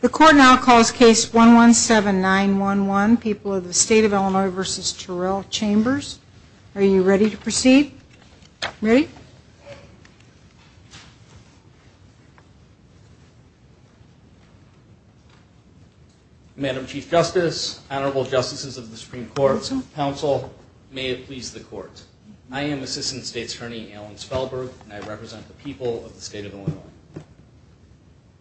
The Court now calls Case 117911, People of the State of Illinois v. Terrell Chambers. Are you ready to proceed? Ready? Madam Chief Justice, Honorable Justices of the Supreme Court, Council, may it please the Court. I am Assistant State's Attorney Alan Spellberg, and I represent the people of the State of Illinois.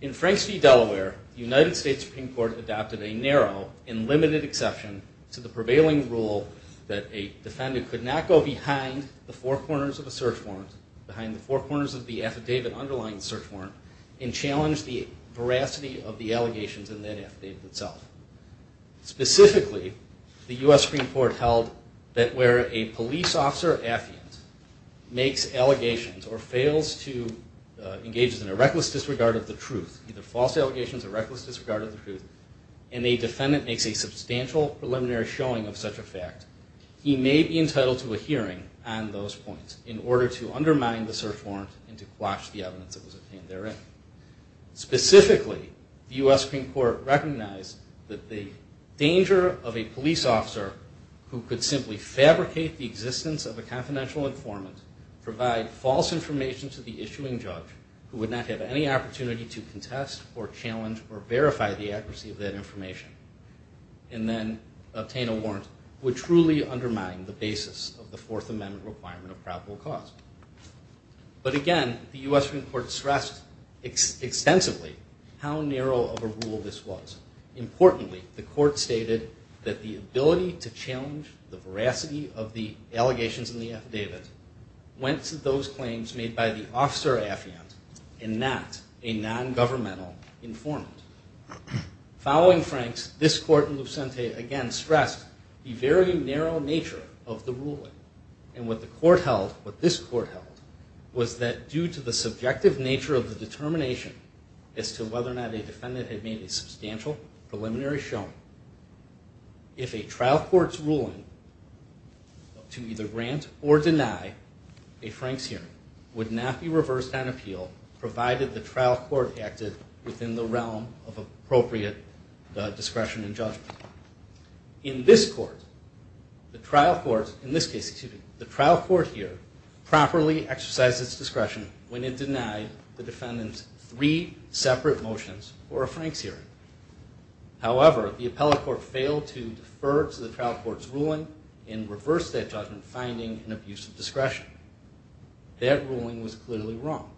In Franks v. Delaware, the United States Supreme Court adopted a narrow and limited exception to the prevailing rule that a defendant could not go behind the four corners of a search warrant, behind the four corners of the affidavit underlying the search warrant, and challenge the veracity of the allegations in that affidavit itself. Specifically, the U.S. Supreme Court held that where a police officer affiant makes allegations or fails to engage in a reckless disregard of the truth, either false allegations or reckless disregard of the truth, and a defendant makes a substantial preliminary showing of such a fact, he may be entitled to a hearing on those points in order to undermine the search warrant and to quash the evidence that was obtained therein. Specifically, the U.S. Supreme Court recognized that the danger of a police officer who could simply fabricate the existence of a confidential informant, provide false information to the issuing judge, who would not have any opportunity to contest or challenge or verify the accuracy of that information, and then obtain a warrant, would truly undermine the basis of the Fourth Amendment requirement of probable cause. But again, the U.S. Supreme Court stressed extensively how narrow of a rule this was. Importantly, the court stated that the ability to challenge the veracity of the allegations in the affidavit went to those claims made by the officer affiant and not a nongovernmental informant. Following Franks, this court in Lucente again stressed the very narrow nature of the ruling. And what the court held, what this court held, was that due to the subjective nature of the determination as to whether or not a defendant had made a substantial preliminary showing, if a trial court's ruling to either grant or deny a Franks hearing would not be reversed on appeal, provided the trial court acted within the realm of appropriate discretion and judgment. In this court, the trial court, in this case, excuse me, the trial court here, properly exercised its discretion when it denied the defendant's three separate motions for a Franks hearing. However, the appellate court failed to defer to the trial court's ruling and reversed that judgment, finding an abuse of discretion. That ruling was clearly wrong.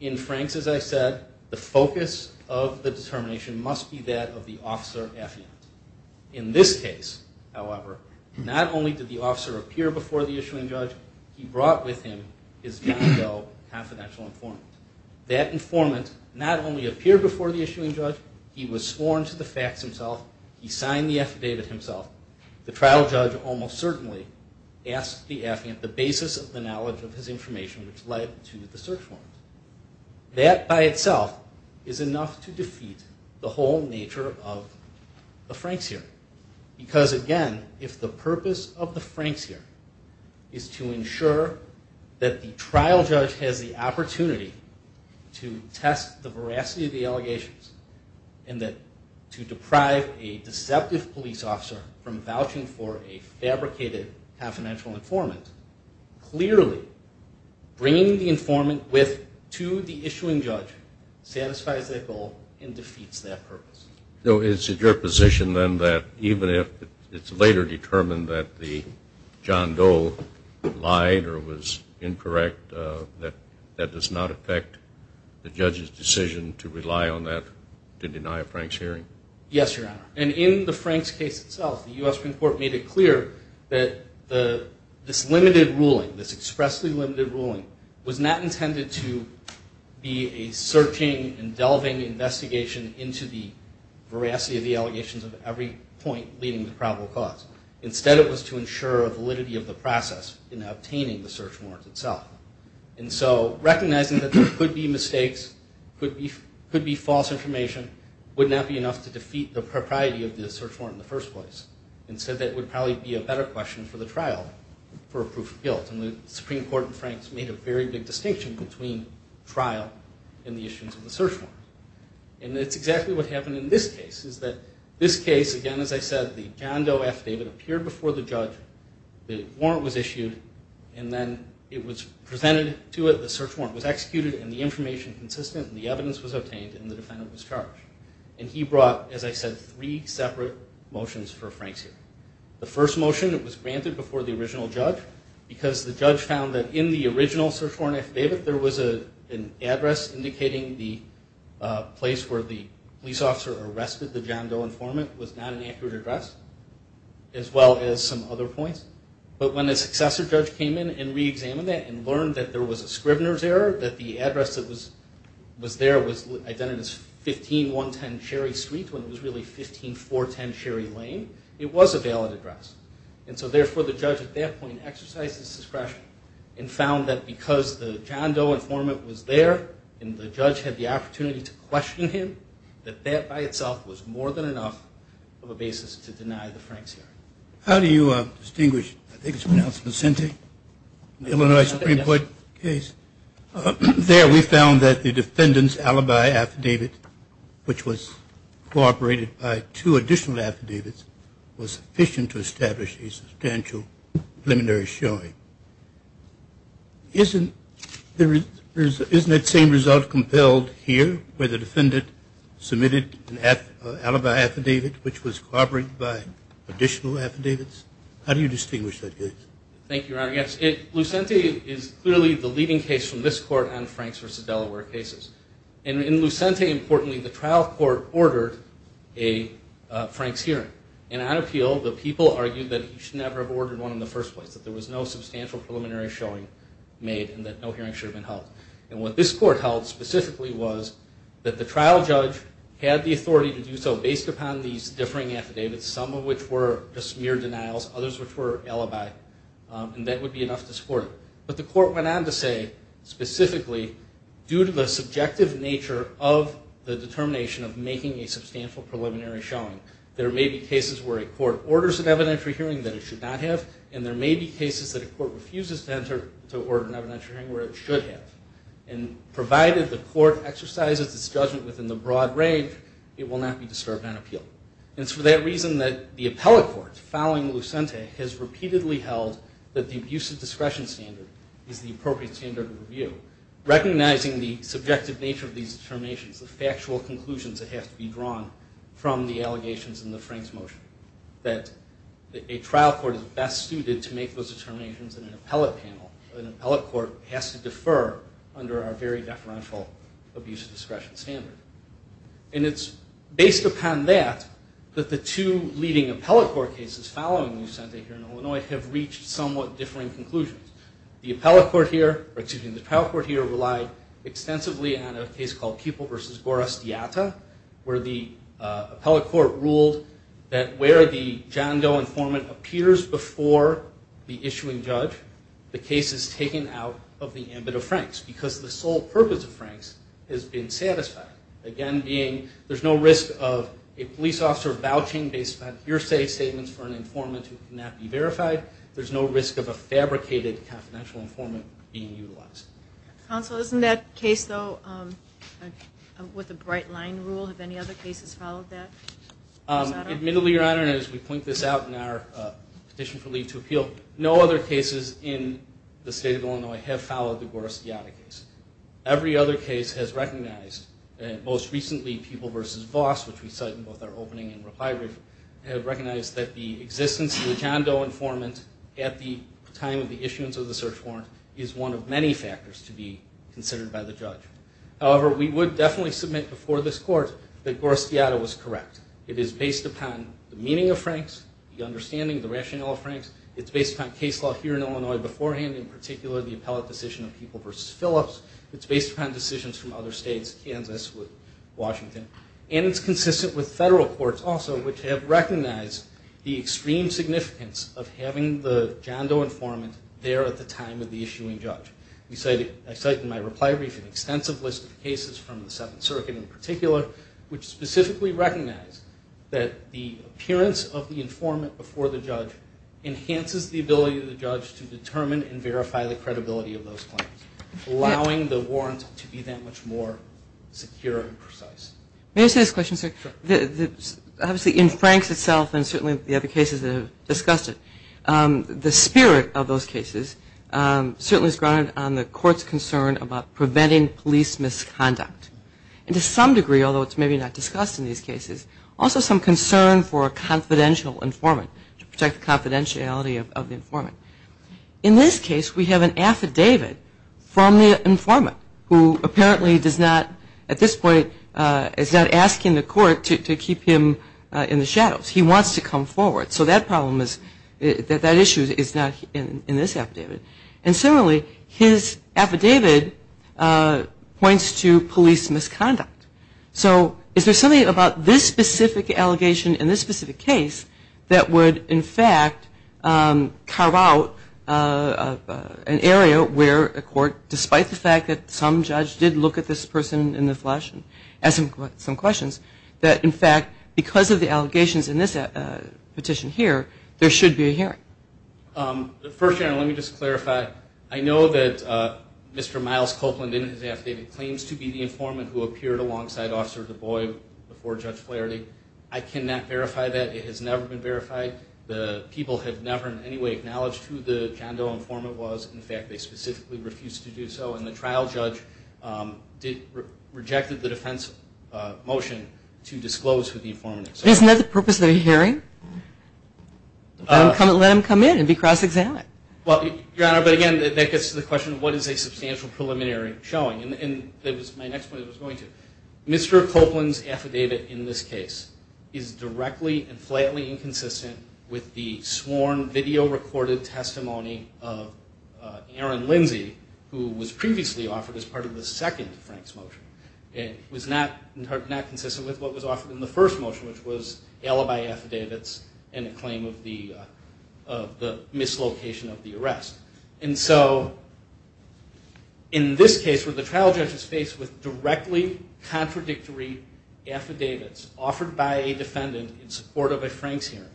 In Franks, as I said, the focus of the determination must be that of the officer affiant. In this case, however, not only did the officer appear before the issuing judge, he brought with him his John Doe confidential informant. That informant not only appeared before the issuing judge, he was sworn to the facts himself, he signed the affidavit himself. The trial judge almost certainly asked the affiant the basis of the knowledge of his information, which led to the search warrant. That by itself is enough to defeat the whole nature of the Franks hearing. Because, again, if the purpose of the Franks hearing is to ensure that the trial judge has the opportunity to test the veracity of the allegations and to deprive a deceptive police officer from vouching for a fabricated confidential informant, clearly bringing the informant with to the issuing judge satisfies that goal and defeats that purpose. So is it your position then that even if it's later determined that the John Doe lied or was incorrect, that that does not affect the judge's decision to rely on that to deny a Franks hearing? Yes, Your Honor. And in the Franks case itself, the U.S. Supreme Court made it clear that this limited ruling, this expressly limited ruling, was not intended to be a searching and delving investigation into the veracity of the allegations of every point leading to probable cause. Instead, it was to ensure validity of the process in obtaining the search warrant itself. And so recognizing that there could be mistakes, could be false information, would not be enough to defeat the propriety of the search warrant in the first place. Instead, that would probably be a better question for the trial for a proof of guilt. And the Supreme Court in Franks made a very big distinction between trial and the issuance of the search warrant. And that's exactly what happened in this case, is that this case, again, as I said, the John Doe affidavit appeared before the judge, the warrant was issued, and then it was presented to it, the search warrant was executed, and the information consistent, and the evidence was obtained, and the defendant was charged. And he brought, as I said, three separate motions for Franks here. The first motion, it was granted before the original judge, because the judge found that in the original search warrant affidavit, there was an address indicating the place where the police officer arrested the John Doe informant was not an accurate address, as well as some other points. But when a successor judge came in and reexamined that and learned that there was a Scribner's error, that the address that was there was identified as 15110 Sherry Street, when it was really 15410 Sherry Lane, it was a valid address. And so, therefore, the judge at that point exercised his discretion and found that because the John Doe informant was there, and the judge had the opportunity to question him, that that by itself was more than enough of a basis to deny the Franks here. How do you distinguish, I think it's pronounced Vicente, the Illinois Supreme Court case? There we found that the defendant's alibi affidavit, which was corroborated by two additional affidavits, was sufficient to establish a substantial preliminary showing. Isn't that same result compelled here, where the defendant submitted an alibi affidavit, which was corroborated by additional affidavits? How do you distinguish that case? Thank you, Your Honor. Yes, Vicente is clearly the leading case from this court on Franks versus Delaware cases. And in Vicente, importantly, the trial court ordered a Franks hearing. And on appeal, the people argued that he should never have ordered one in the first place, that there was no substantial preliminary showing made and that no hearing should have been held. And what this court held specifically was that the trial judge had the authority to do so based upon these differing affidavits, some of which were just mere denials, others which were alibi, and that would be enough to support it. But the court went on to say, specifically, due to the subjective nature of the determination of making a substantial preliminary showing, there may be cases where a court orders an evidentiary hearing that it should not have, and there may be cases that a court refuses to order an evidentiary hearing where it should have. And provided the court exercises its judgment within the broad range, it will not be disturbed on appeal. And it's for that reason that the appellate court, following Vicente, has repeatedly held that the abuse of discretion standard is the appropriate standard of review, recognizing the subjective nature of these determinations, the factual conclusions that have to be drawn from the allegations in the Franks motion, an appellate court has to defer under our very deferential abuse of discretion standard. And it's based upon that that the two leading appellate court cases following Vicente here in Illinois have reached somewhat differing conclusions. The appellate court here relied extensively on a case called Kueppel v. Gorazdeata where the appellate court ruled that where the John Doe informant appears before the issuing judge, the case is taken out of the ambit of Franks because the sole purpose of Franks has been satisfied. Again, being there's no risk of a police officer vouching based upon hearsay statements for an informant who cannot be verified. There's no risk of a fabricated confidential informant being utilized. Counsel, isn't that case, though, with the bright line rule? Have any other cases followed that? Admittedly, Your Honor, and as we point this out in our petition for leave to appeal, no other cases in the state of Illinois have followed the Gorazdeata case. Every other case has recognized, and most recently Kueppel v. Voss, which we cite in both our opening and reply brief, have recognized that the existence of the John Doe informant at the time of the issuance of the search warrant is one of many factors to be considered by the judge. However, we would definitely submit before this court that Gorazdeata was correct. It is based upon the meaning of Franks, the understanding, the rationale of Franks. It's based upon case law here in Illinois beforehand, in particular the appellate decision of Kueppel v. Phillips. It's based upon decisions from other states, Kansas, Washington. And it's consistent with federal courts also, which have recognized the extreme significance of having the John Doe informant there at the time of the issuing judge. I cite in my reply brief an extensive list of cases from the Seventh Circuit in particular, which specifically recognize that the appearance of the informant before the judge enhances the ability of the judge to determine and verify the credibility of those claims, allowing the warrant to be that much more secure and precise. May I say this question, sir? Sure. Obviously in Franks itself and certainly the other cases that have discussed it, the spirit of those cases certainly is grounded on the court's concern about preventing police misconduct. And to some degree, although it's maybe not discussed in these cases, also some concern for a confidential informant to protect the confidentiality of the informant. In this case, we have an affidavit from the informant who apparently does not, at this point, is not asking the court to keep him in the shadows. He wants to come forward. So that problem is that that issue is not in this affidavit. And similarly, his affidavit points to police misconduct. So is there something about this specific allegation in this specific case that would, in fact, carve out an area where a court, despite the fact that some judge did look at this person in the flesh and ask some questions, that, in fact, because of the allegations in this petition here, there should be a hearing? I know that Mr. Miles Copeland in his affidavit claims to be the informant who appeared alongside Officer DuBois before Judge Flaherty. I cannot verify that. It has never been verified. The people have never in any way acknowledged who the John Doe informant was. In fact, they specifically refused to do so. And the trial judge rejected the defense motion to disclose who the informant is. Isn't that the purpose of the hearing? Let him come in and be cross-examined. Well, Your Honor, but, again, that gets to the question of what is a substantial preliminary showing. And my next point is Mr. Copeland's affidavit in this case is directly and flatly inconsistent with the sworn video-recorded testimony of Aaron Lindsay, who was previously offered as part of the second Franks motion. It was not consistent with what was offered in the first motion, which was alibi affidavits and a claim of the mislocation of the arrest. And so in this case where the trial judge is faced with directly contradictory affidavits offered by a defendant in support of a Franks hearing,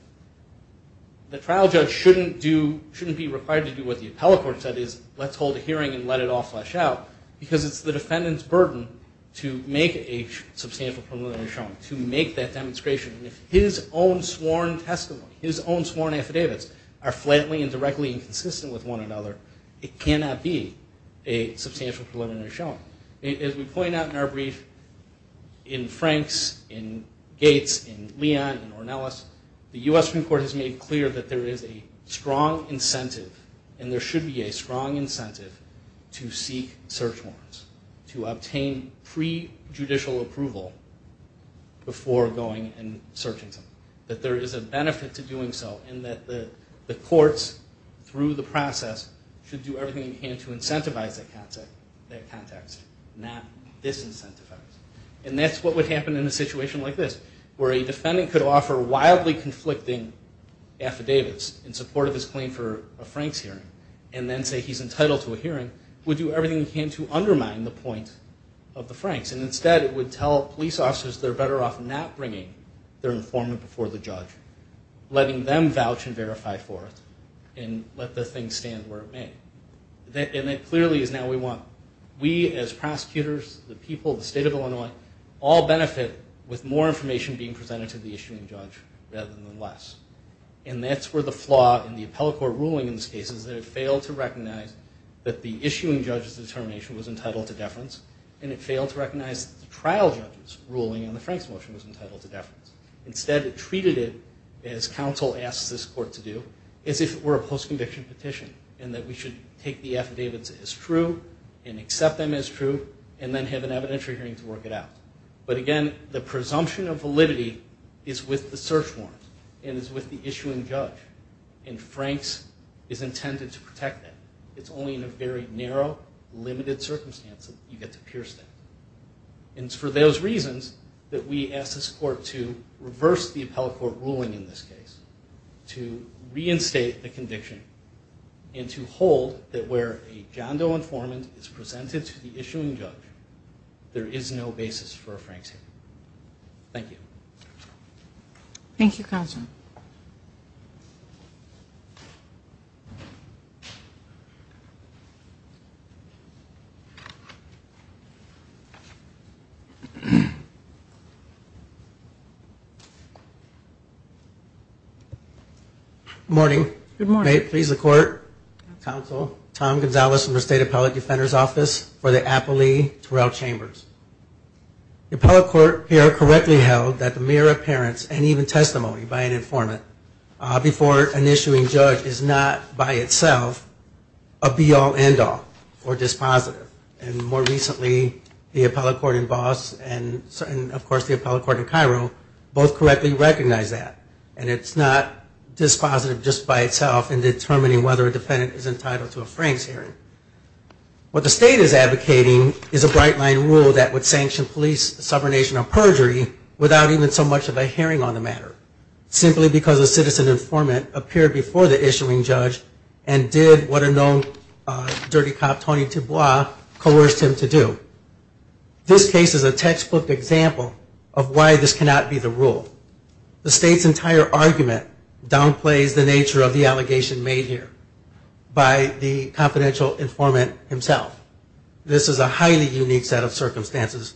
the trial judge shouldn't be required to do what the appellate court said is, let's hold a hearing and let it all flesh out, because it's the defendant's burden to make a substantial preliminary showing, to make that demonstration. And if his own sworn testimony, his own sworn affidavits, are flatly and directly inconsistent with one another, it cannot be a substantial preliminary showing. As we point out in our brief, in Franks, in Gates, in Leon, in Ornelas, the U.S. Supreme Court has made clear that there is a strong incentive, and there should be a strong incentive, to seek search warrants, to obtain pre-judicial approval before going and searching something. That there is a benefit to doing so, and that the courts through the process should do everything they can to incentivize that context, not disincentivize. And that's what would happen in a situation like this, where a defendant could offer wildly conflicting affidavits in support of his claim for a Franks hearing, and then say he's entitled to a hearing, would do everything he can to undermine the point of the Franks. And instead, it would tell police officers they're better off not bringing their informant before the judge, letting them vouch and verify for it, and let the thing stand where it may. And that clearly is now what we want. We, as prosecutors, the people, the state of Illinois, all benefit with more information being presented to the issuing judge rather than less. And that's where the flaw in the appellate court ruling in this case is that it failed to recognize that the issuing judge's determination was entitled to deference, and it failed to recognize that the trial judge's ruling on the Franks motion was entitled to deference. Instead, it treated it, as counsel asked this court to do, as if it were a post-conviction petition, and that we should take the affidavits as true, and accept them as true, and then have an evidentiary hearing to work it out. But again, the presumption of validity is with the search warrant and is with the issuing judge. And Franks is intended to protect that. It's only in a very narrow, limited circumstance that you get to pierce that. And it's for those reasons that we ask this court to reverse the appellate court ruling in this case, to reinstate the conviction, and to hold that where a John Doe informant is presented to the issuing judge, there is no basis for a Franks hearing. Thank you. Thank you, counsel. Good morning. Good morning. May it please the court, counsel, Tom Gonzalez from the State Appellate Defender's Office for the Applee-Torrell Chambers. The appellate court here correctly held that the mere appearance and even testimony by an informant before an issuing judge is not by itself a be-all, end-all or dispositive. And more recently, the appellate court in Voss and of course the appellate court in Cairo both correctly recognized that. And it's not dispositive just by itself in determining whether a defendant is entitled to a Franks hearing. What the state is advocating is a bright-line rule that would sanction police subordination or perjury without even so much of a hearing on the matter, simply because a citizen informant appeared before the issuing judge and did what a known dirty cop, Tony DuBois, coerced him to do. This case is a textbook example of why this cannot be the rule. The state's entire argument downplays the nature of the allegation made here by the confidential informant himself. This is a highly unique set of circumstances.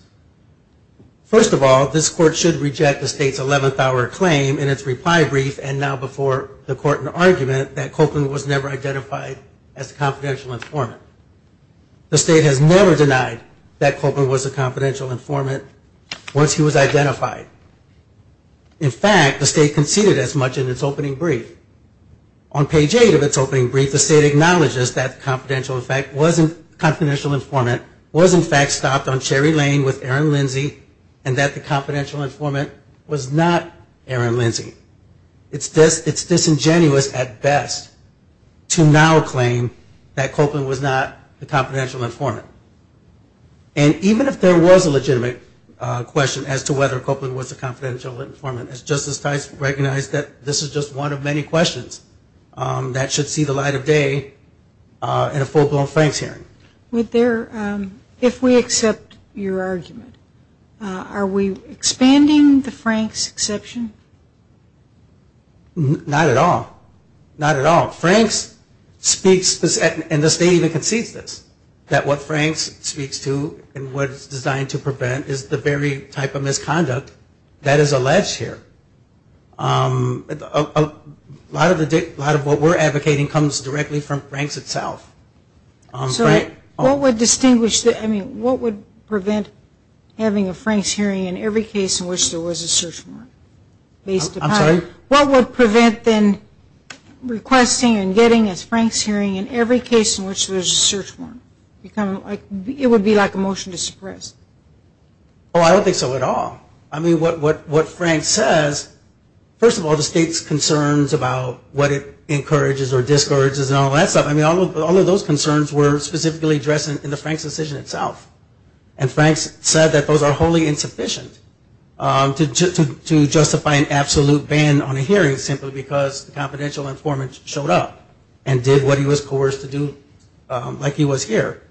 First of all, this court should reject the state's 11th hour claim in its reply brief and now before the court in argument that Copeland was never identified as a confidential informant. The state has never denied that Copeland was a confidential informant once he was identified. In fact, the state conceded as much in its opening brief. On page 8 of its opening brief, the state acknowledges that the confidential informant was in fact stopped on Cherry Lane with Aaron Lindsay and that the confidential informant was not Aaron Lindsay. It's disingenuous at best to now claim that Copeland was not the confidential informant. And even if there was a legitimate question as to whether Copeland was a confidential informant, Justice Tice recognized that this is just one of many questions that should see the light of day in a full-blown Franks hearing. If we accept your argument, are we expanding the Franks exception? Not at all. Not at all. Franks speaks, and the state even concedes this, that what Franks speaks to and what it's designed to prevent is the very type of misconduct that is alleged here. A lot of what we're advocating comes directly from Franks itself. So what would distinguish, I mean, what would prevent having a Franks hearing in every case in which there was a search warrant? I'm sorry? What would prevent then requesting and getting a Franks hearing in every case in which there was a search warrant? It would be like a motion to suppress. Oh, I don't think so at all. I mean, what Franks says, first of all, the state's concerns about what it encourages or discourages and all that stuff, I mean, all of those concerns were specifically addressed in the Franks decision itself. And Franks said that those are wholly insufficient to justify an absolute ban on a hearing simply because the confidential informant showed up and did what he was coerced to do like he was here.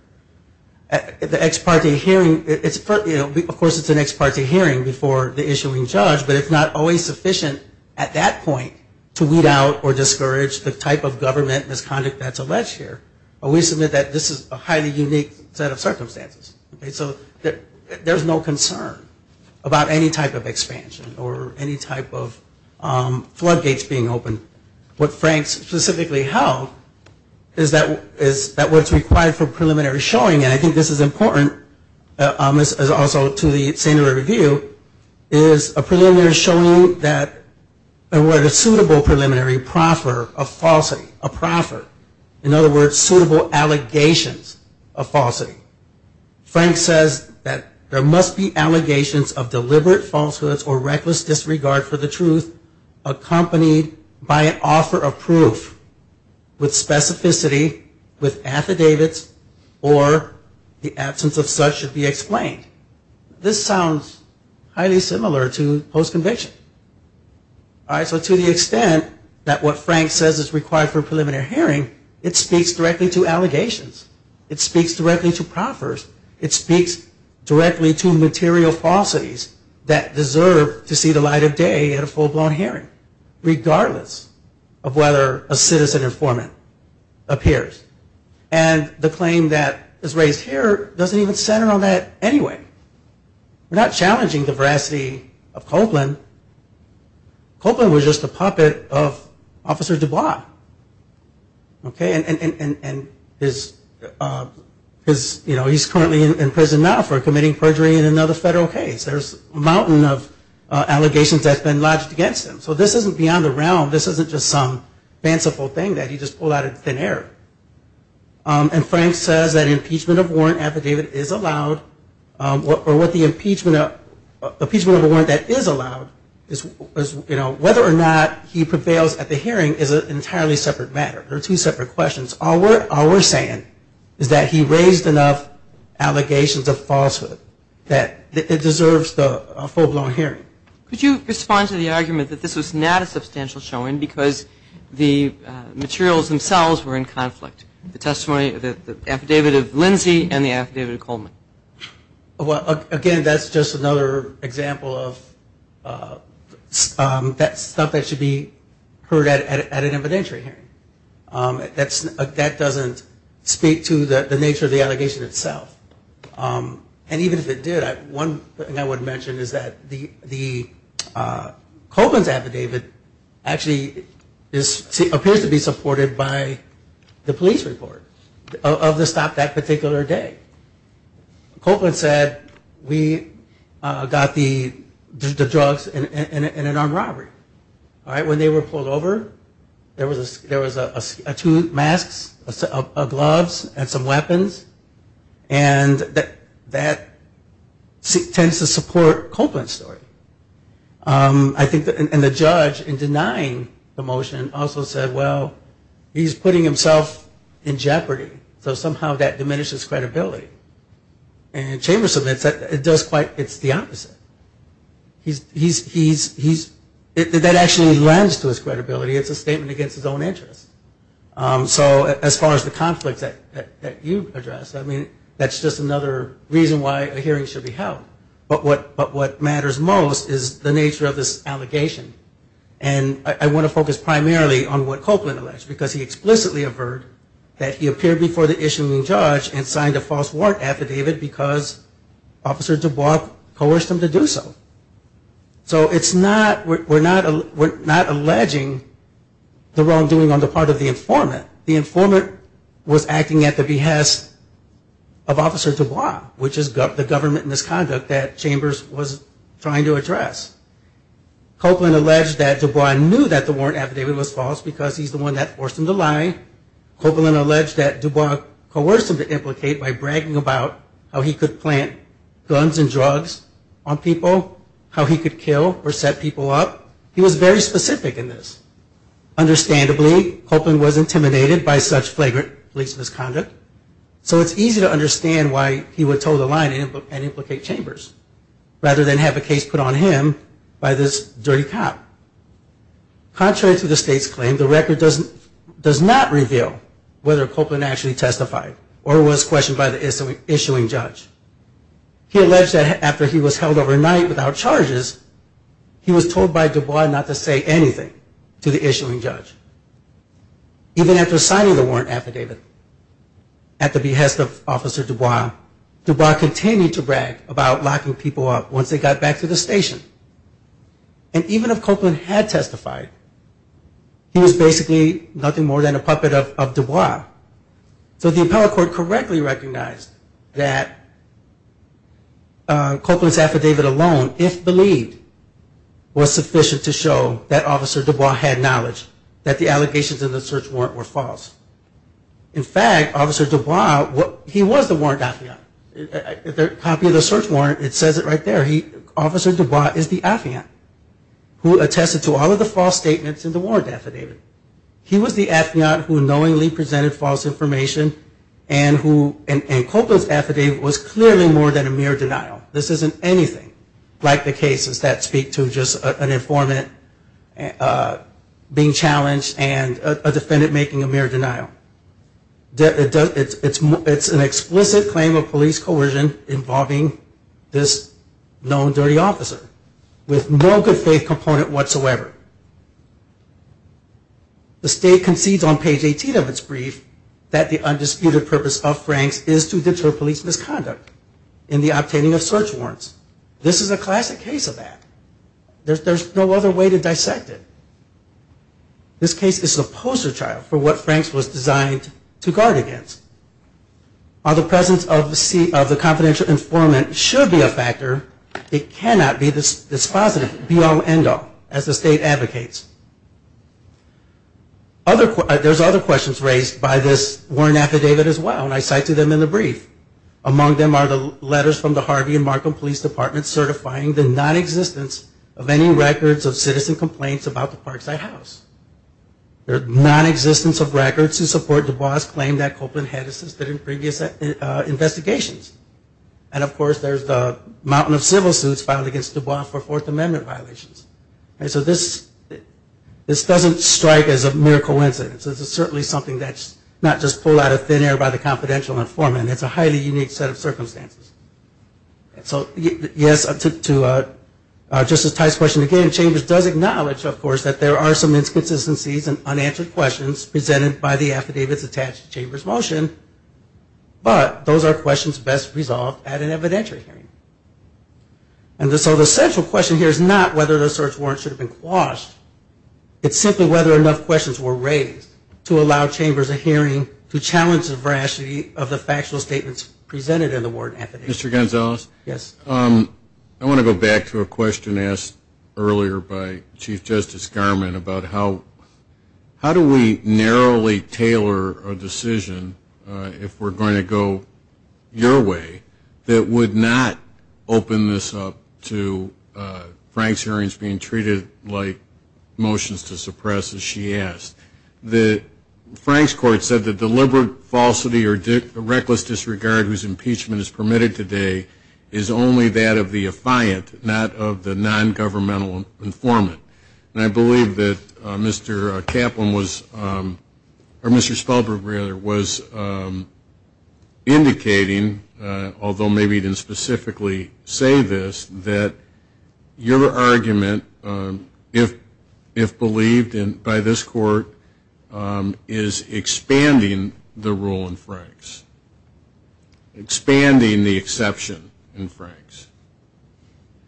The ex parte hearing, of course it's an ex parte hearing before the issuing judge, but it's not always sufficient at that point to weed out or discourage the type of government misconduct that's alleged here. We submit that this is a highly unique set of circumstances. So there's no concern about any type of expansion or any type of floodgates being opened. What Franks specifically held is that what's required for preliminary showing, and I think this is important, as also to the standard of review, is a preliminary showing that, a suitable preliminary proffer of falsity, a proffer, in other words, suitable allegations of falsity. Franks says that there must be allegations accompanied by an offer of proof with specificity, with affidavits, or the absence of such should be explained. This sounds highly similar to post-conviction. All right, so to the extent that what Frank says is required for a preliminary hearing, it speaks directly to allegations. It speaks directly to proffers. It speaks directly to material falsities that deserve to see the light of day at a full-blown hearing, regardless of whether a citizen informant appears. And the claim that is raised here doesn't even center on that anyway. We're not challenging the veracity of Copeland. Copeland was just a puppet of Officer DuBois. Okay, and his, you know, he's currently in prison now for committing perjury in another federal case. There's a mountain of allegations that's been lodged against him. So this isn't beyond the realm. This isn't just some fanciful thing that he just pulled out of thin air. And Frank says that impeachment of warrant affidavit is allowed, or what the impeachment of a warrant that is allowed is, you know, whether or not he prevails at the hearing is an entirely separate matter. They're two separate questions. All we're saying is that he raised enough allegations of falsehood that it deserves the full-blown hearing. Could you respond to the argument that this was not a substantial showing because the materials themselves were in conflict? The testimony of the affidavit of Lindsey and the affidavit of Coleman. Well, again, that's just another example of stuff that should be heard at an evidentiary hearing. That doesn't speak to the nature of the allegation itself. And even if it did, one thing I would mention is that the Coleman's affidavit actually appears to be supported by the police report of the stop that particular day. Coleman said, we got the drugs in an armed robbery. When they were pulled over, there was two masks, a set of gloves, and some weapons. And that tends to support Coleman's story. And the judge, in denying the motion, also said, well, he's putting himself in jeopardy. So somehow that diminishes credibility. And Chambers admits that it's the opposite. That actually lends to his credibility. It's a statement against his own interests. So as far as the conflict that you addressed, I mean, that's just another reason why a hearing should be held. But what matters most is the nature of this allegation. And I want to focus primarily on what Coleman alleged, because he explicitly affirmed that he appeared before the issuing judge and signed a false warrant affidavit because Officer DuBois coerced him to do so. So it's not, we're not alleging the wrongdoing on the part of the informant. The informant was acting at the behest of Officer DuBois, which is the government misconduct that Chambers was trying to address. Coleman alleged that DuBois knew that the warrant affidavit was false because he's the one that forced him to lie. Coleman alleged that DuBois coerced him to implicate by bragging about how he could plant guns and drugs on people, how he could kill or set people up. He was very specific in this. Understandably, Coleman was intimidated by such flagrant police misconduct, so it's easy to understand why he would toe the line and implicate Chambers, rather than have a case put on him by this dirty cop. Contrary to the state's claim, the record does not reveal whether Coleman actually testified or was questioned by the issuing judge. He alleged that after he was held overnight without charges, he was told by DuBois not to say anything to the issuing judge. Even after signing the warrant affidavit at the behest of Officer DuBois, DuBois continued to brag about locking people up once they got back to the station. And even if Coleman had testified, he was basically nothing more than a puppet of DuBois. So the appellate court correctly recognized that Coleman's affidavit alone, if believed, was sufficient to show that Officer DuBois had knowledge that the allegations in the search warrant were false. In fact, Officer DuBois, he was the warrant affidavit. The copy of the search warrant, it says it right there. Officer DuBois is the affidavit who attested to all of the false statements in the warrant affidavit. He was the affidavit who knowingly presented false information and Coleman's affidavit was clearly more than a mere denial. This isn't anything like the cases that speak to just an informant being challenged and a defendant making a mere denial. It's an explicit claim of police coercion involving this known dirty officer with no good faith component whatsoever. The state concedes on page 18 of its brief that the undisputed purpose of Frank's is to deter police misconduct in the obtaining of search warrants. This is a classic case of that. There's no other way to dissect it. This case is a poster child for what Frank's was designed to guard against. While the presence of the confidential informant should be a factor, it cannot be dispositive, be all end all, as the state advocates. There's other questions raised by this warrant affidavit as well and I cite to them in the brief. Among them are the letters from the Harvey and Markham Police Department certifying the nonexistence of any records of citizen complaints about the Parkside House. Their nonexistence of records to support DuBois' claim that Copeland had assisted in previous investigations. And of course there's the mountain of civil suits filed against DuBois for Fourth Amendment violations. So this doesn't strike as a mere coincidence. This is certainly something that's not just pulled out of thin air by the confidential informant. It's a highly unique set of circumstances. So yes, to Justice Tice's question again, Chambers does acknowledge, of course, that there are some inconsistencies and unanswered questions presented by the affidavits attached to Chambers' motion, but those are questions best resolved at an evidentiary hearing. And so the central question here is not whether the search warrant should have been quashed. It's simply whether enough questions were raised to allow Chambers a hearing to challenge the veracity of the factual statements presented in the warrant affidavit. Mr. Gonzalez? Yes. I want to go back to a question asked earlier by Chief Justice Garmon about how do we narrowly tailor a decision, if we're going to go your way, that would not open this up to Frank's hearings being treated like motions to suppress, as she asked. Frank's court said the deliberate falsity or reckless disregard whose impeachment is permitted today is only that of the affiant, not of the nongovernmental informant. And I believe that Mr. Kaplan was, or Mr. Spellberg, rather, was indicating, although maybe he didn't specifically say this, that your argument, if believed by this court, is expanding the rule in Frank's, expanding the exception in Frank's.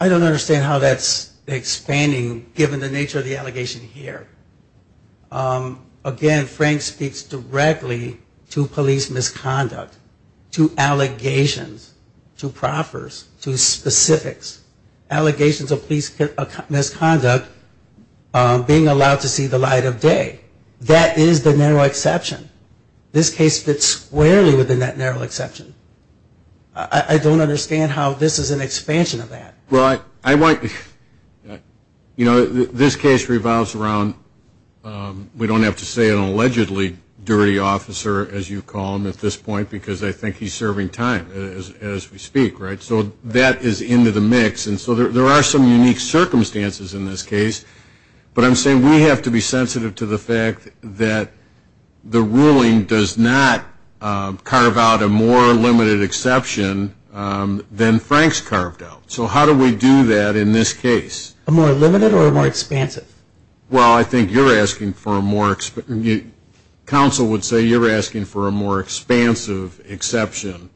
I don't understand how that's expanding, given the nature of the allegation here. Again, Frank speaks directly to police misconduct, to allegations, to proffers, to specifics. Allegations of police misconduct being allowed to see the light of day. That is the narrow exception. This case fits squarely within that narrow exception. I don't understand how this is an expansion of that. Well, I want, you know, this case revolves around, we don't have to say an allegedly dirty officer, as you call him at this point, because I think he's serving time as we speak, right? So that is into the mix. And so there are some unique circumstances in this case. But I'm saying we have to be sensitive to the fact that the ruling does not have a more limited exception than Frank's carved out. So how do we do that in this case? A more limited or a more expansive? Well, I think you're asking for a more, counsel would say you're asking for a more expansive exception.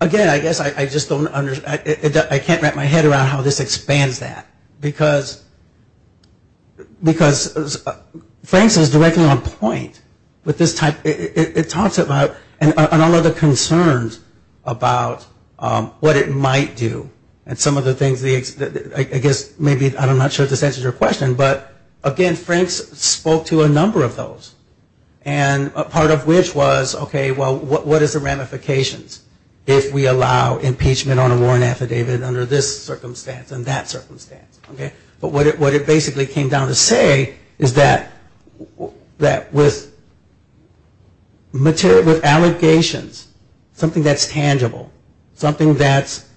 Again, I guess I just don't understand, I can't wrap my head around how this expands that. Because Frank's is directly on point with this type, it talks about and all of the concerns about what it might do. And some of the things, I guess maybe, I'm not sure if this answers your question, but again Frank's spoke to a number of those. And part of which was, okay, well, what is the ramifications if we allow impeachment on a warrant affidavit under this circumstance and that circumstance? But what it basically came down to say is that with allegations, something that's tangible, something that's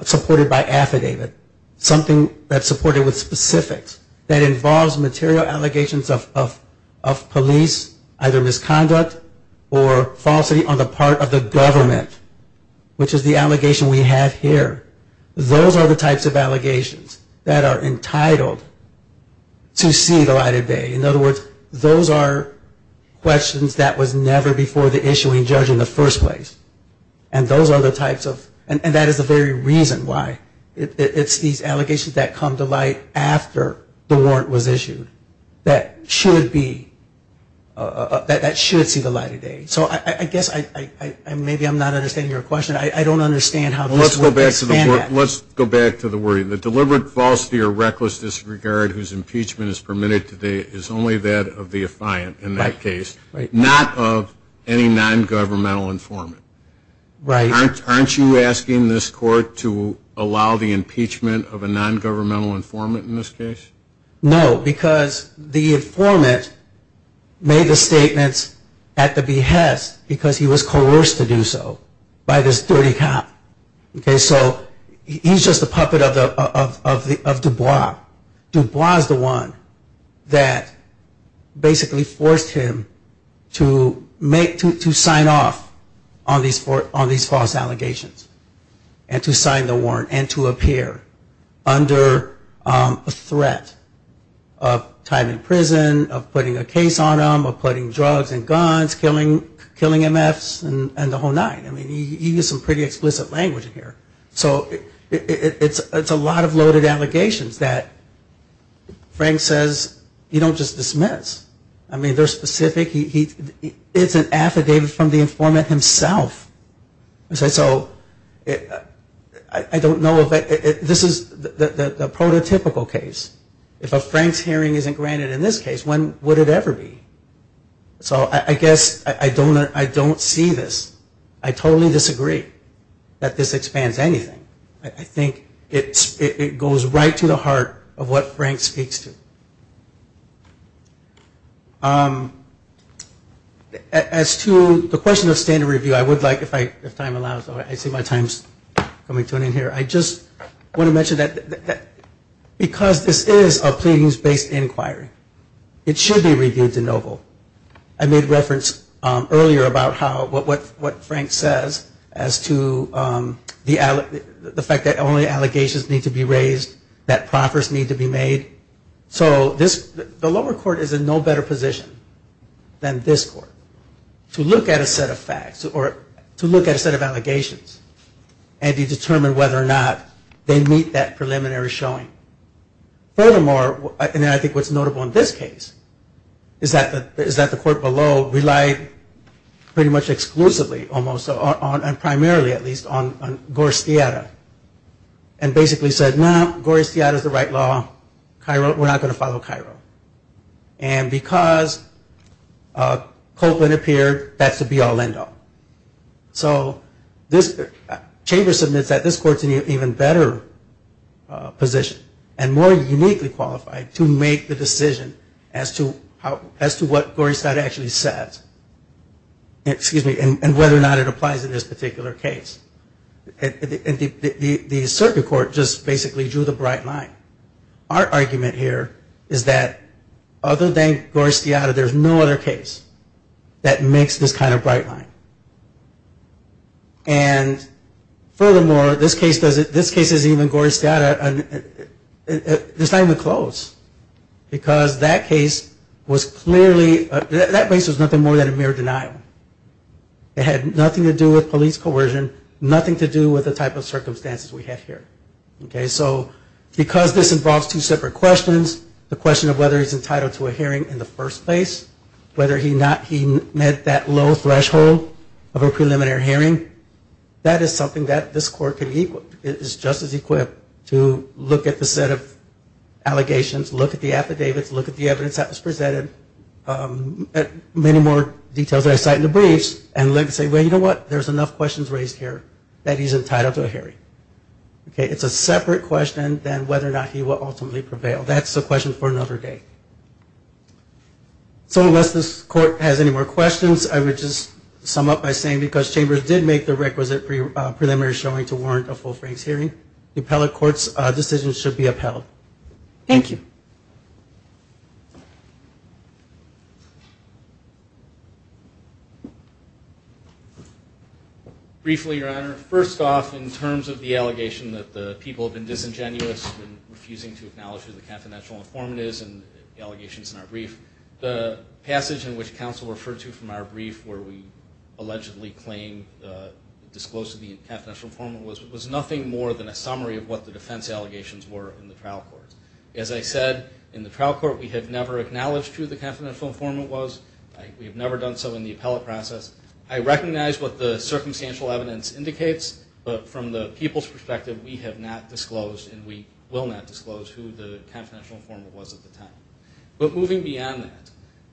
supported by affidavit, something that's supported with specifics, that involves material allegations of police either misconduct or falsity on the part of the government, which is the allegation we have here, those are the types of allegations that are entitled to see the light of day. In other words, those are questions that was never before the issuing judge in the first place. And those are the types of, and that is the very reason why, it's these allegations that come to light after the warrant was issued that should be, that should see the light of day. So I guess maybe I'm not understanding your question. I don't understand how this would expand that. Let's go back to the wording. The deliberate, falsity, or reckless disregard whose impeachment is permitted today is only that of the affiant in that case, not of any non-governmental informant. Right. Aren't you asking this court to allow the impeachment of a non-governmental informant in this case? No. Because the informant made the statements at the behest because he was coerced to do so by this dirty cop. Okay. So he's just a puppet of Dubois. Dubois is the one that basically forced him to make, to sign off on these false allegations and to sign the warrant and to appear under a threat of time in prison, of putting a case on him, of putting drugs and guns, killing MFs, and the whole nine. I mean, he used some pretty explicit language here. So it's a lot of loaded allegations that Frank says you don't just dismiss. I mean, they're specific. It's an affidavit from the informant himself. So I don't know if this is the prototypical case. If a Franks hearing isn't granted in this case, when would it ever be? So I guess I don't see this. I totally disagree that this expands anything. I think it goes right to the heart of what Frank speaks to. As to the question of standard review, I would like, if time allows, I see my time is coming to an end here. I just want to mention that because this is a pleadings-based inquiry, it should be reviewed to no vote. I made reference earlier about what Frank says as to the fact that only allegations need to be raised, that proffers need to be made. So the lower court is in no better position than this court to look at a set of facts or to look at a set of allegations and to determine whether or not they meet that preliminary showing. Furthermore, and I think what's notable in this case, is that the court below relied pretty much exclusively almost on, and primarily at least, on Gorskiada and basically said, no, Gorskiada is the right law. We're not going to follow Cairo. And because Copeland appeared, that's the be-all, end-all. So this chamber submits that this court is in an even better position and more uniquely qualified to make the decision as to what Gorskiada actually said and whether or not it applies in this particular case. And the circuit court just basically drew the bright line. Our argument here is that other than Gorskiada, there's no other case that makes this kind of bright line. And furthermore, this case doesn't, this case isn't even Gorskiada, it's not even close. Because that case was clearly, that case was nothing more than a mere denial. It had nothing to do with police coercion, nothing to do with the type of circumstances we have here. Okay, so because this involves two separate questions, the question of whether he's entitled to a hearing in the first place, whether he met that low threshold of a preliminary hearing, that is something that this court is just as equipped to look at the set of allegations, look at the affidavits, look at the evidence that was presented, look at many more details that I cite in the briefs and say, well, you know what, there's enough questions raised here that he's entitled to a hearing. Okay, it's a separate question than whether or not he will ultimately prevail. That's a question for another day. So unless this court has any more questions, I would just sum up by saying, because Chambers did make the requisite preliminary showing to warrant a full-franc hearing, the appellate court's decision should be upheld. Thank you. Briefly, Your Honor, first off, in terms of the allegation that the people have been disingenuous in refusing to acknowledge who the confidential informant is and the allegations in our brief, the passage in which counsel referred to from our brief where we allegedly claimed the disclosure of the confidential informant was nothing more than a summary of what the defense allegations were in the trial court. As I said, in the trial court, we have never acknowledged who the confidential informant was. We have never done so in the appellate process. I recognize what the circumstantial evidence indicates, but from the people's perspective, we have not disclosed and we will not disclose who the confidential informant was at the time. But moving beyond that,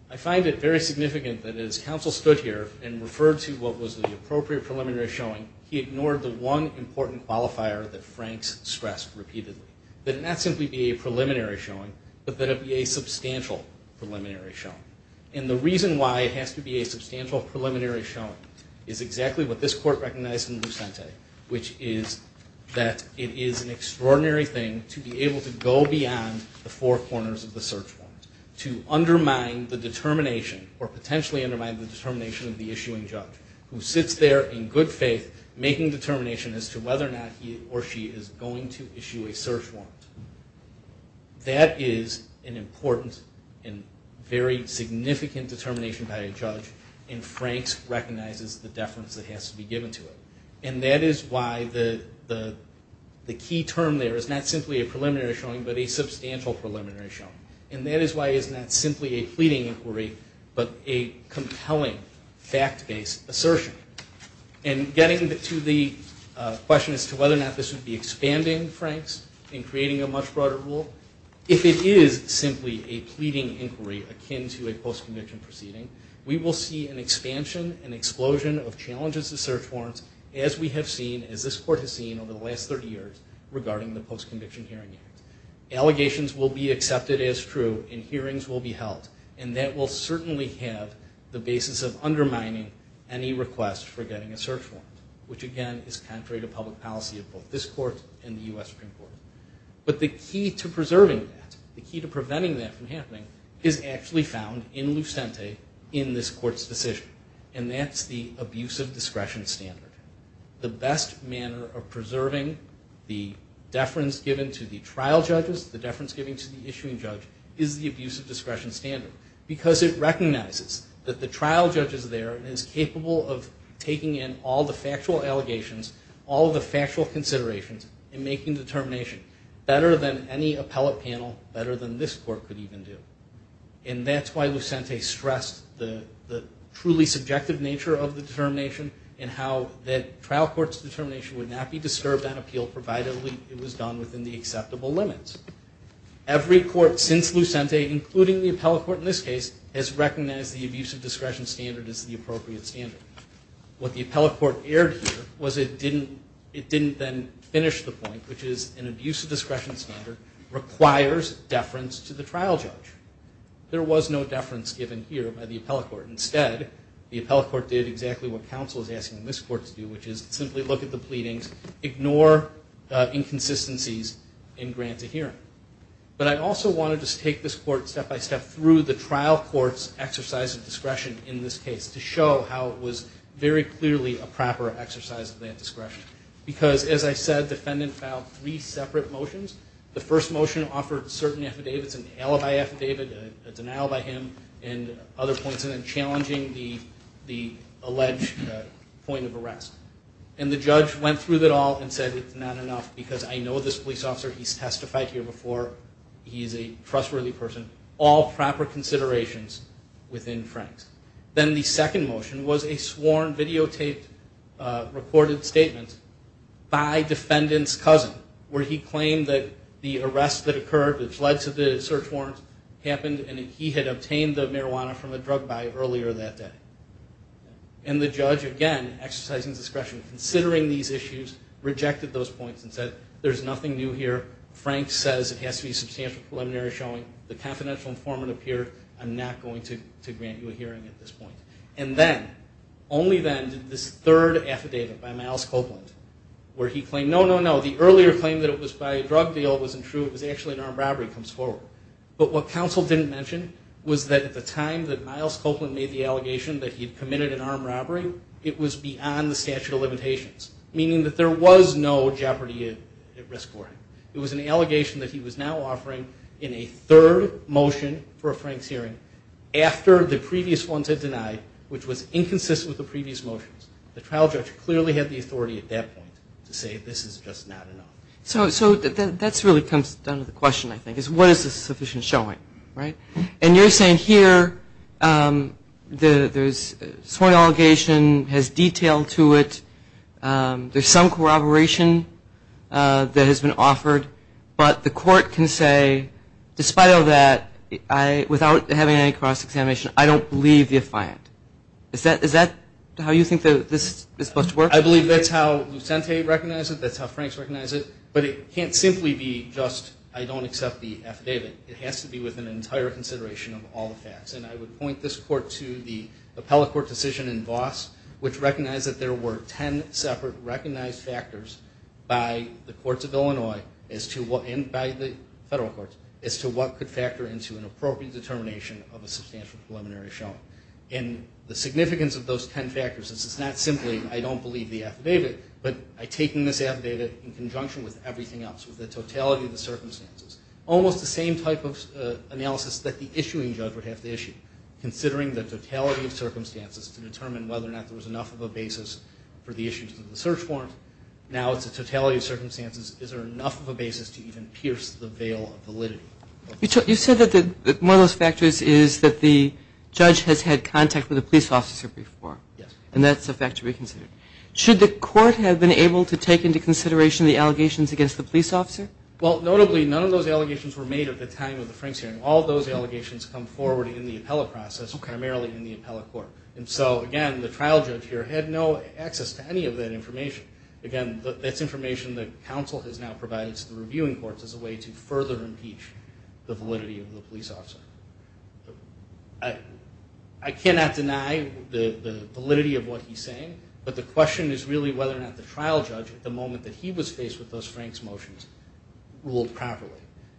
I find it very significant that as counsel stood here and referred to what was the appropriate preliminary showing, he ignored the one important qualifier that Franks stressed repeatedly, that it not simply be a preliminary showing, but that it be a substantial preliminary showing. And the reason why it has to be a substantial preliminary showing is exactly what this court recognized in Lucente, which is that it is an extraordinary thing to be able to go beyond the four corners of the search warrant, to undermine the determination or potentially undermine the determination of the issuing judge who sits there in good faith making determination as to whether or not he or she is going to issue a search warrant. That is an important and very significant determination by a judge, and Franks recognizes the deference that has to be given to it. And that is why the key term there is not simply a preliminary showing, but a substantial preliminary showing. And that is why it is not simply a pleading inquiry, but a compelling fact-based assertion. And getting to the question as to whether or not this would be expanding Franks and creating a much broader rule, if it is simply a pleading inquiry akin to a post-conviction proceeding, we will see an expansion and explosion of challenges to search warrants as we have seen, as this court has seen, over the last 30 years regarding the Post-Conviction Hearing Act. Allegations will be accepted as true and hearings will be held, and that will certainly have the basis of undermining any request for getting a search warrant, which, again, is contrary to public policy of both this court and the U.S. Supreme Court. But the key to preserving that, the key to preventing that from happening, is actually found in Lucente in this court's decision, and that's the abuse of discretion standard. The best manner of preserving the deference given to the trial judges, the deference given to the issuing judge, is the abuse of discretion standard because it recognizes that the trial judge is there and is capable of taking in all the factual allegations, all the factual considerations, and making the determination better than any appellate panel, better than this court could even do. And that's why Lucente stressed the truly subjective nature of the determination and how that trial court's determination would not be disturbed on appeal, provided it was done within the acceptable limits. Every court since Lucente, including the appellate court in this case, has recognized the abuse of discretion standard as the appropriate standard. What the appellate court aired here was it didn't then finish the point, which is an abuse of discretion standard requires deference to the trial judge. There was no deference given here by the appellate court. Instead, the appellate court did exactly what counsel is asking this court to do, which is simply look at the pleadings, ignore inconsistencies, and grant a hearing. But I also want to just take this court step by step through the trial court's exercise of discretion in this case to show how it was very clearly a proper exercise of that discretion. Because, as I said, the defendant filed three separate motions. The first motion offered certain affidavits, an alibi affidavit, a denial by him, and other points, and then challenging the alleged point of arrest. And the judge went through it all and said, it's not enough because I know this police officer. He's testified here before. He's a trustworthy person. All proper considerations within Frank's. Then the second motion was a sworn, videotaped, recorded statement by defendant's cousin, where he claimed that the arrest that occurred, which led to the search warrant, happened, and he had obtained the marijuana from a drug buyer earlier that day. And the judge, again, exercising discretion, considering these issues, rejected those points and said, there's nothing new here. Frank says it has to be a substantial preliminary showing. The confidential informant appeared. I'm not going to grant you a hearing at this point. And then, only then, did this third affidavit by Myles Copeland, where he claimed, no, no, no, the earlier claim that it was by a drug deal wasn't true. It was actually an armed robbery comes forward. But what counsel didn't mention was that at the time that Myles Copeland made the allegation that he had committed an armed robbery, it was beyond the statute of limitations, meaning that there was no jeopardy at risk for him. It was an allegation that he was now offering in a third motion for a Frank's hearing after the previous ones had denied, which was inconsistent with the previous motions. The trial judge clearly had the authority at that point to say, this is just not enough. So that really comes down to the question, I think, is what is the sufficient showing, right? And you're saying here there's sworn allegation, has detail to it, there's some corroboration that has been offered, but the court can say, despite all that, without having any cross-examination, I don't believe the affiant. Is that how you think this is supposed to work? I believe that's how Lucente recognized it. That's how Franks recognized it. But it can't simply be just I don't accept the affidavit. It has to be with an entire consideration of all the facts. And I would point this court to the appellate court decision in Voss, which recognized that there were ten separate recognized factors by the courts of Illinois and by the federal courts as to what could factor into an appropriate determination of a substantial preliminary showing. And the significance of those ten factors is it's not simply I don't believe the affidavit, but I take in this affidavit in conjunction with everything else, with the totality of the circumstances. Almost the same type of analysis that the issuing judge would have to issue, considering the totality of circumstances to determine whether or not there was enough of a basis for the issuance of the search warrant. Now it's a totality of circumstances. Is there enough of a basis to even pierce the veil of validity? You said that one of those factors is that the judge has had contact with a police officer before. Yes. And that's a factor to be considered. Should the court have been able to take into consideration the allegations against the police officer? Well, notably, none of those allegations were made at the time of the Franks hearing. All those allegations come forward in the appellate process, primarily in the appellate court. And so, again, the trial judge here had no access to any of that information. Again, that's information that counsel has now provided to the reviewing courts as a way to further impeach the validity of the police officer. I cannot deny the validity of what he's saying, but the question is really whether or not the trial judge, at the moment that he was faced with those Franks motions, ruled properly.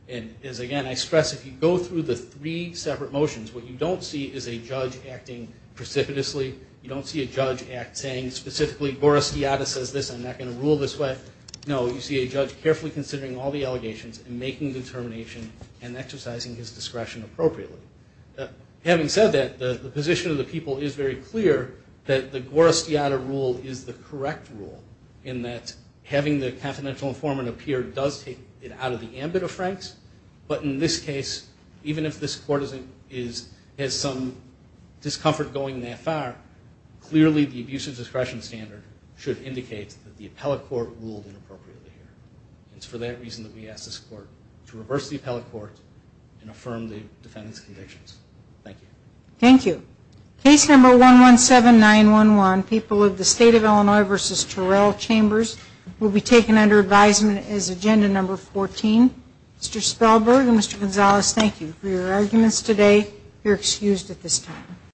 And, again, I stress if you go through the three separate motions, what you don't see is a judge acting precipitously. You don't see a judge act saying specifically, Guerra Estiada says this, I'm not going to rule this way. No, you see a judge carefully considering all the allegations and making determination and exercising his discretion appropriately. Having said that, the position of the people is very clear that the having the confidential informant appear does take it out of the ambit of Franks, but in this case, even if this court has some discomfort going that far, clearly the abuse of discretion standard should indicate that the appellate court ruled inappropriately here. It's for that reason that we ask this court to reverse the appellate court and affirm the defendant's convictions. Thank you. Thank you. Case number 117911, People of the State of Illinois v. Terrell Chambers, will be taken under advisement as agenda number 14. Mr. Spellberg and Mr. Gonzalez, thank you for your arguments today. You're excused at this time.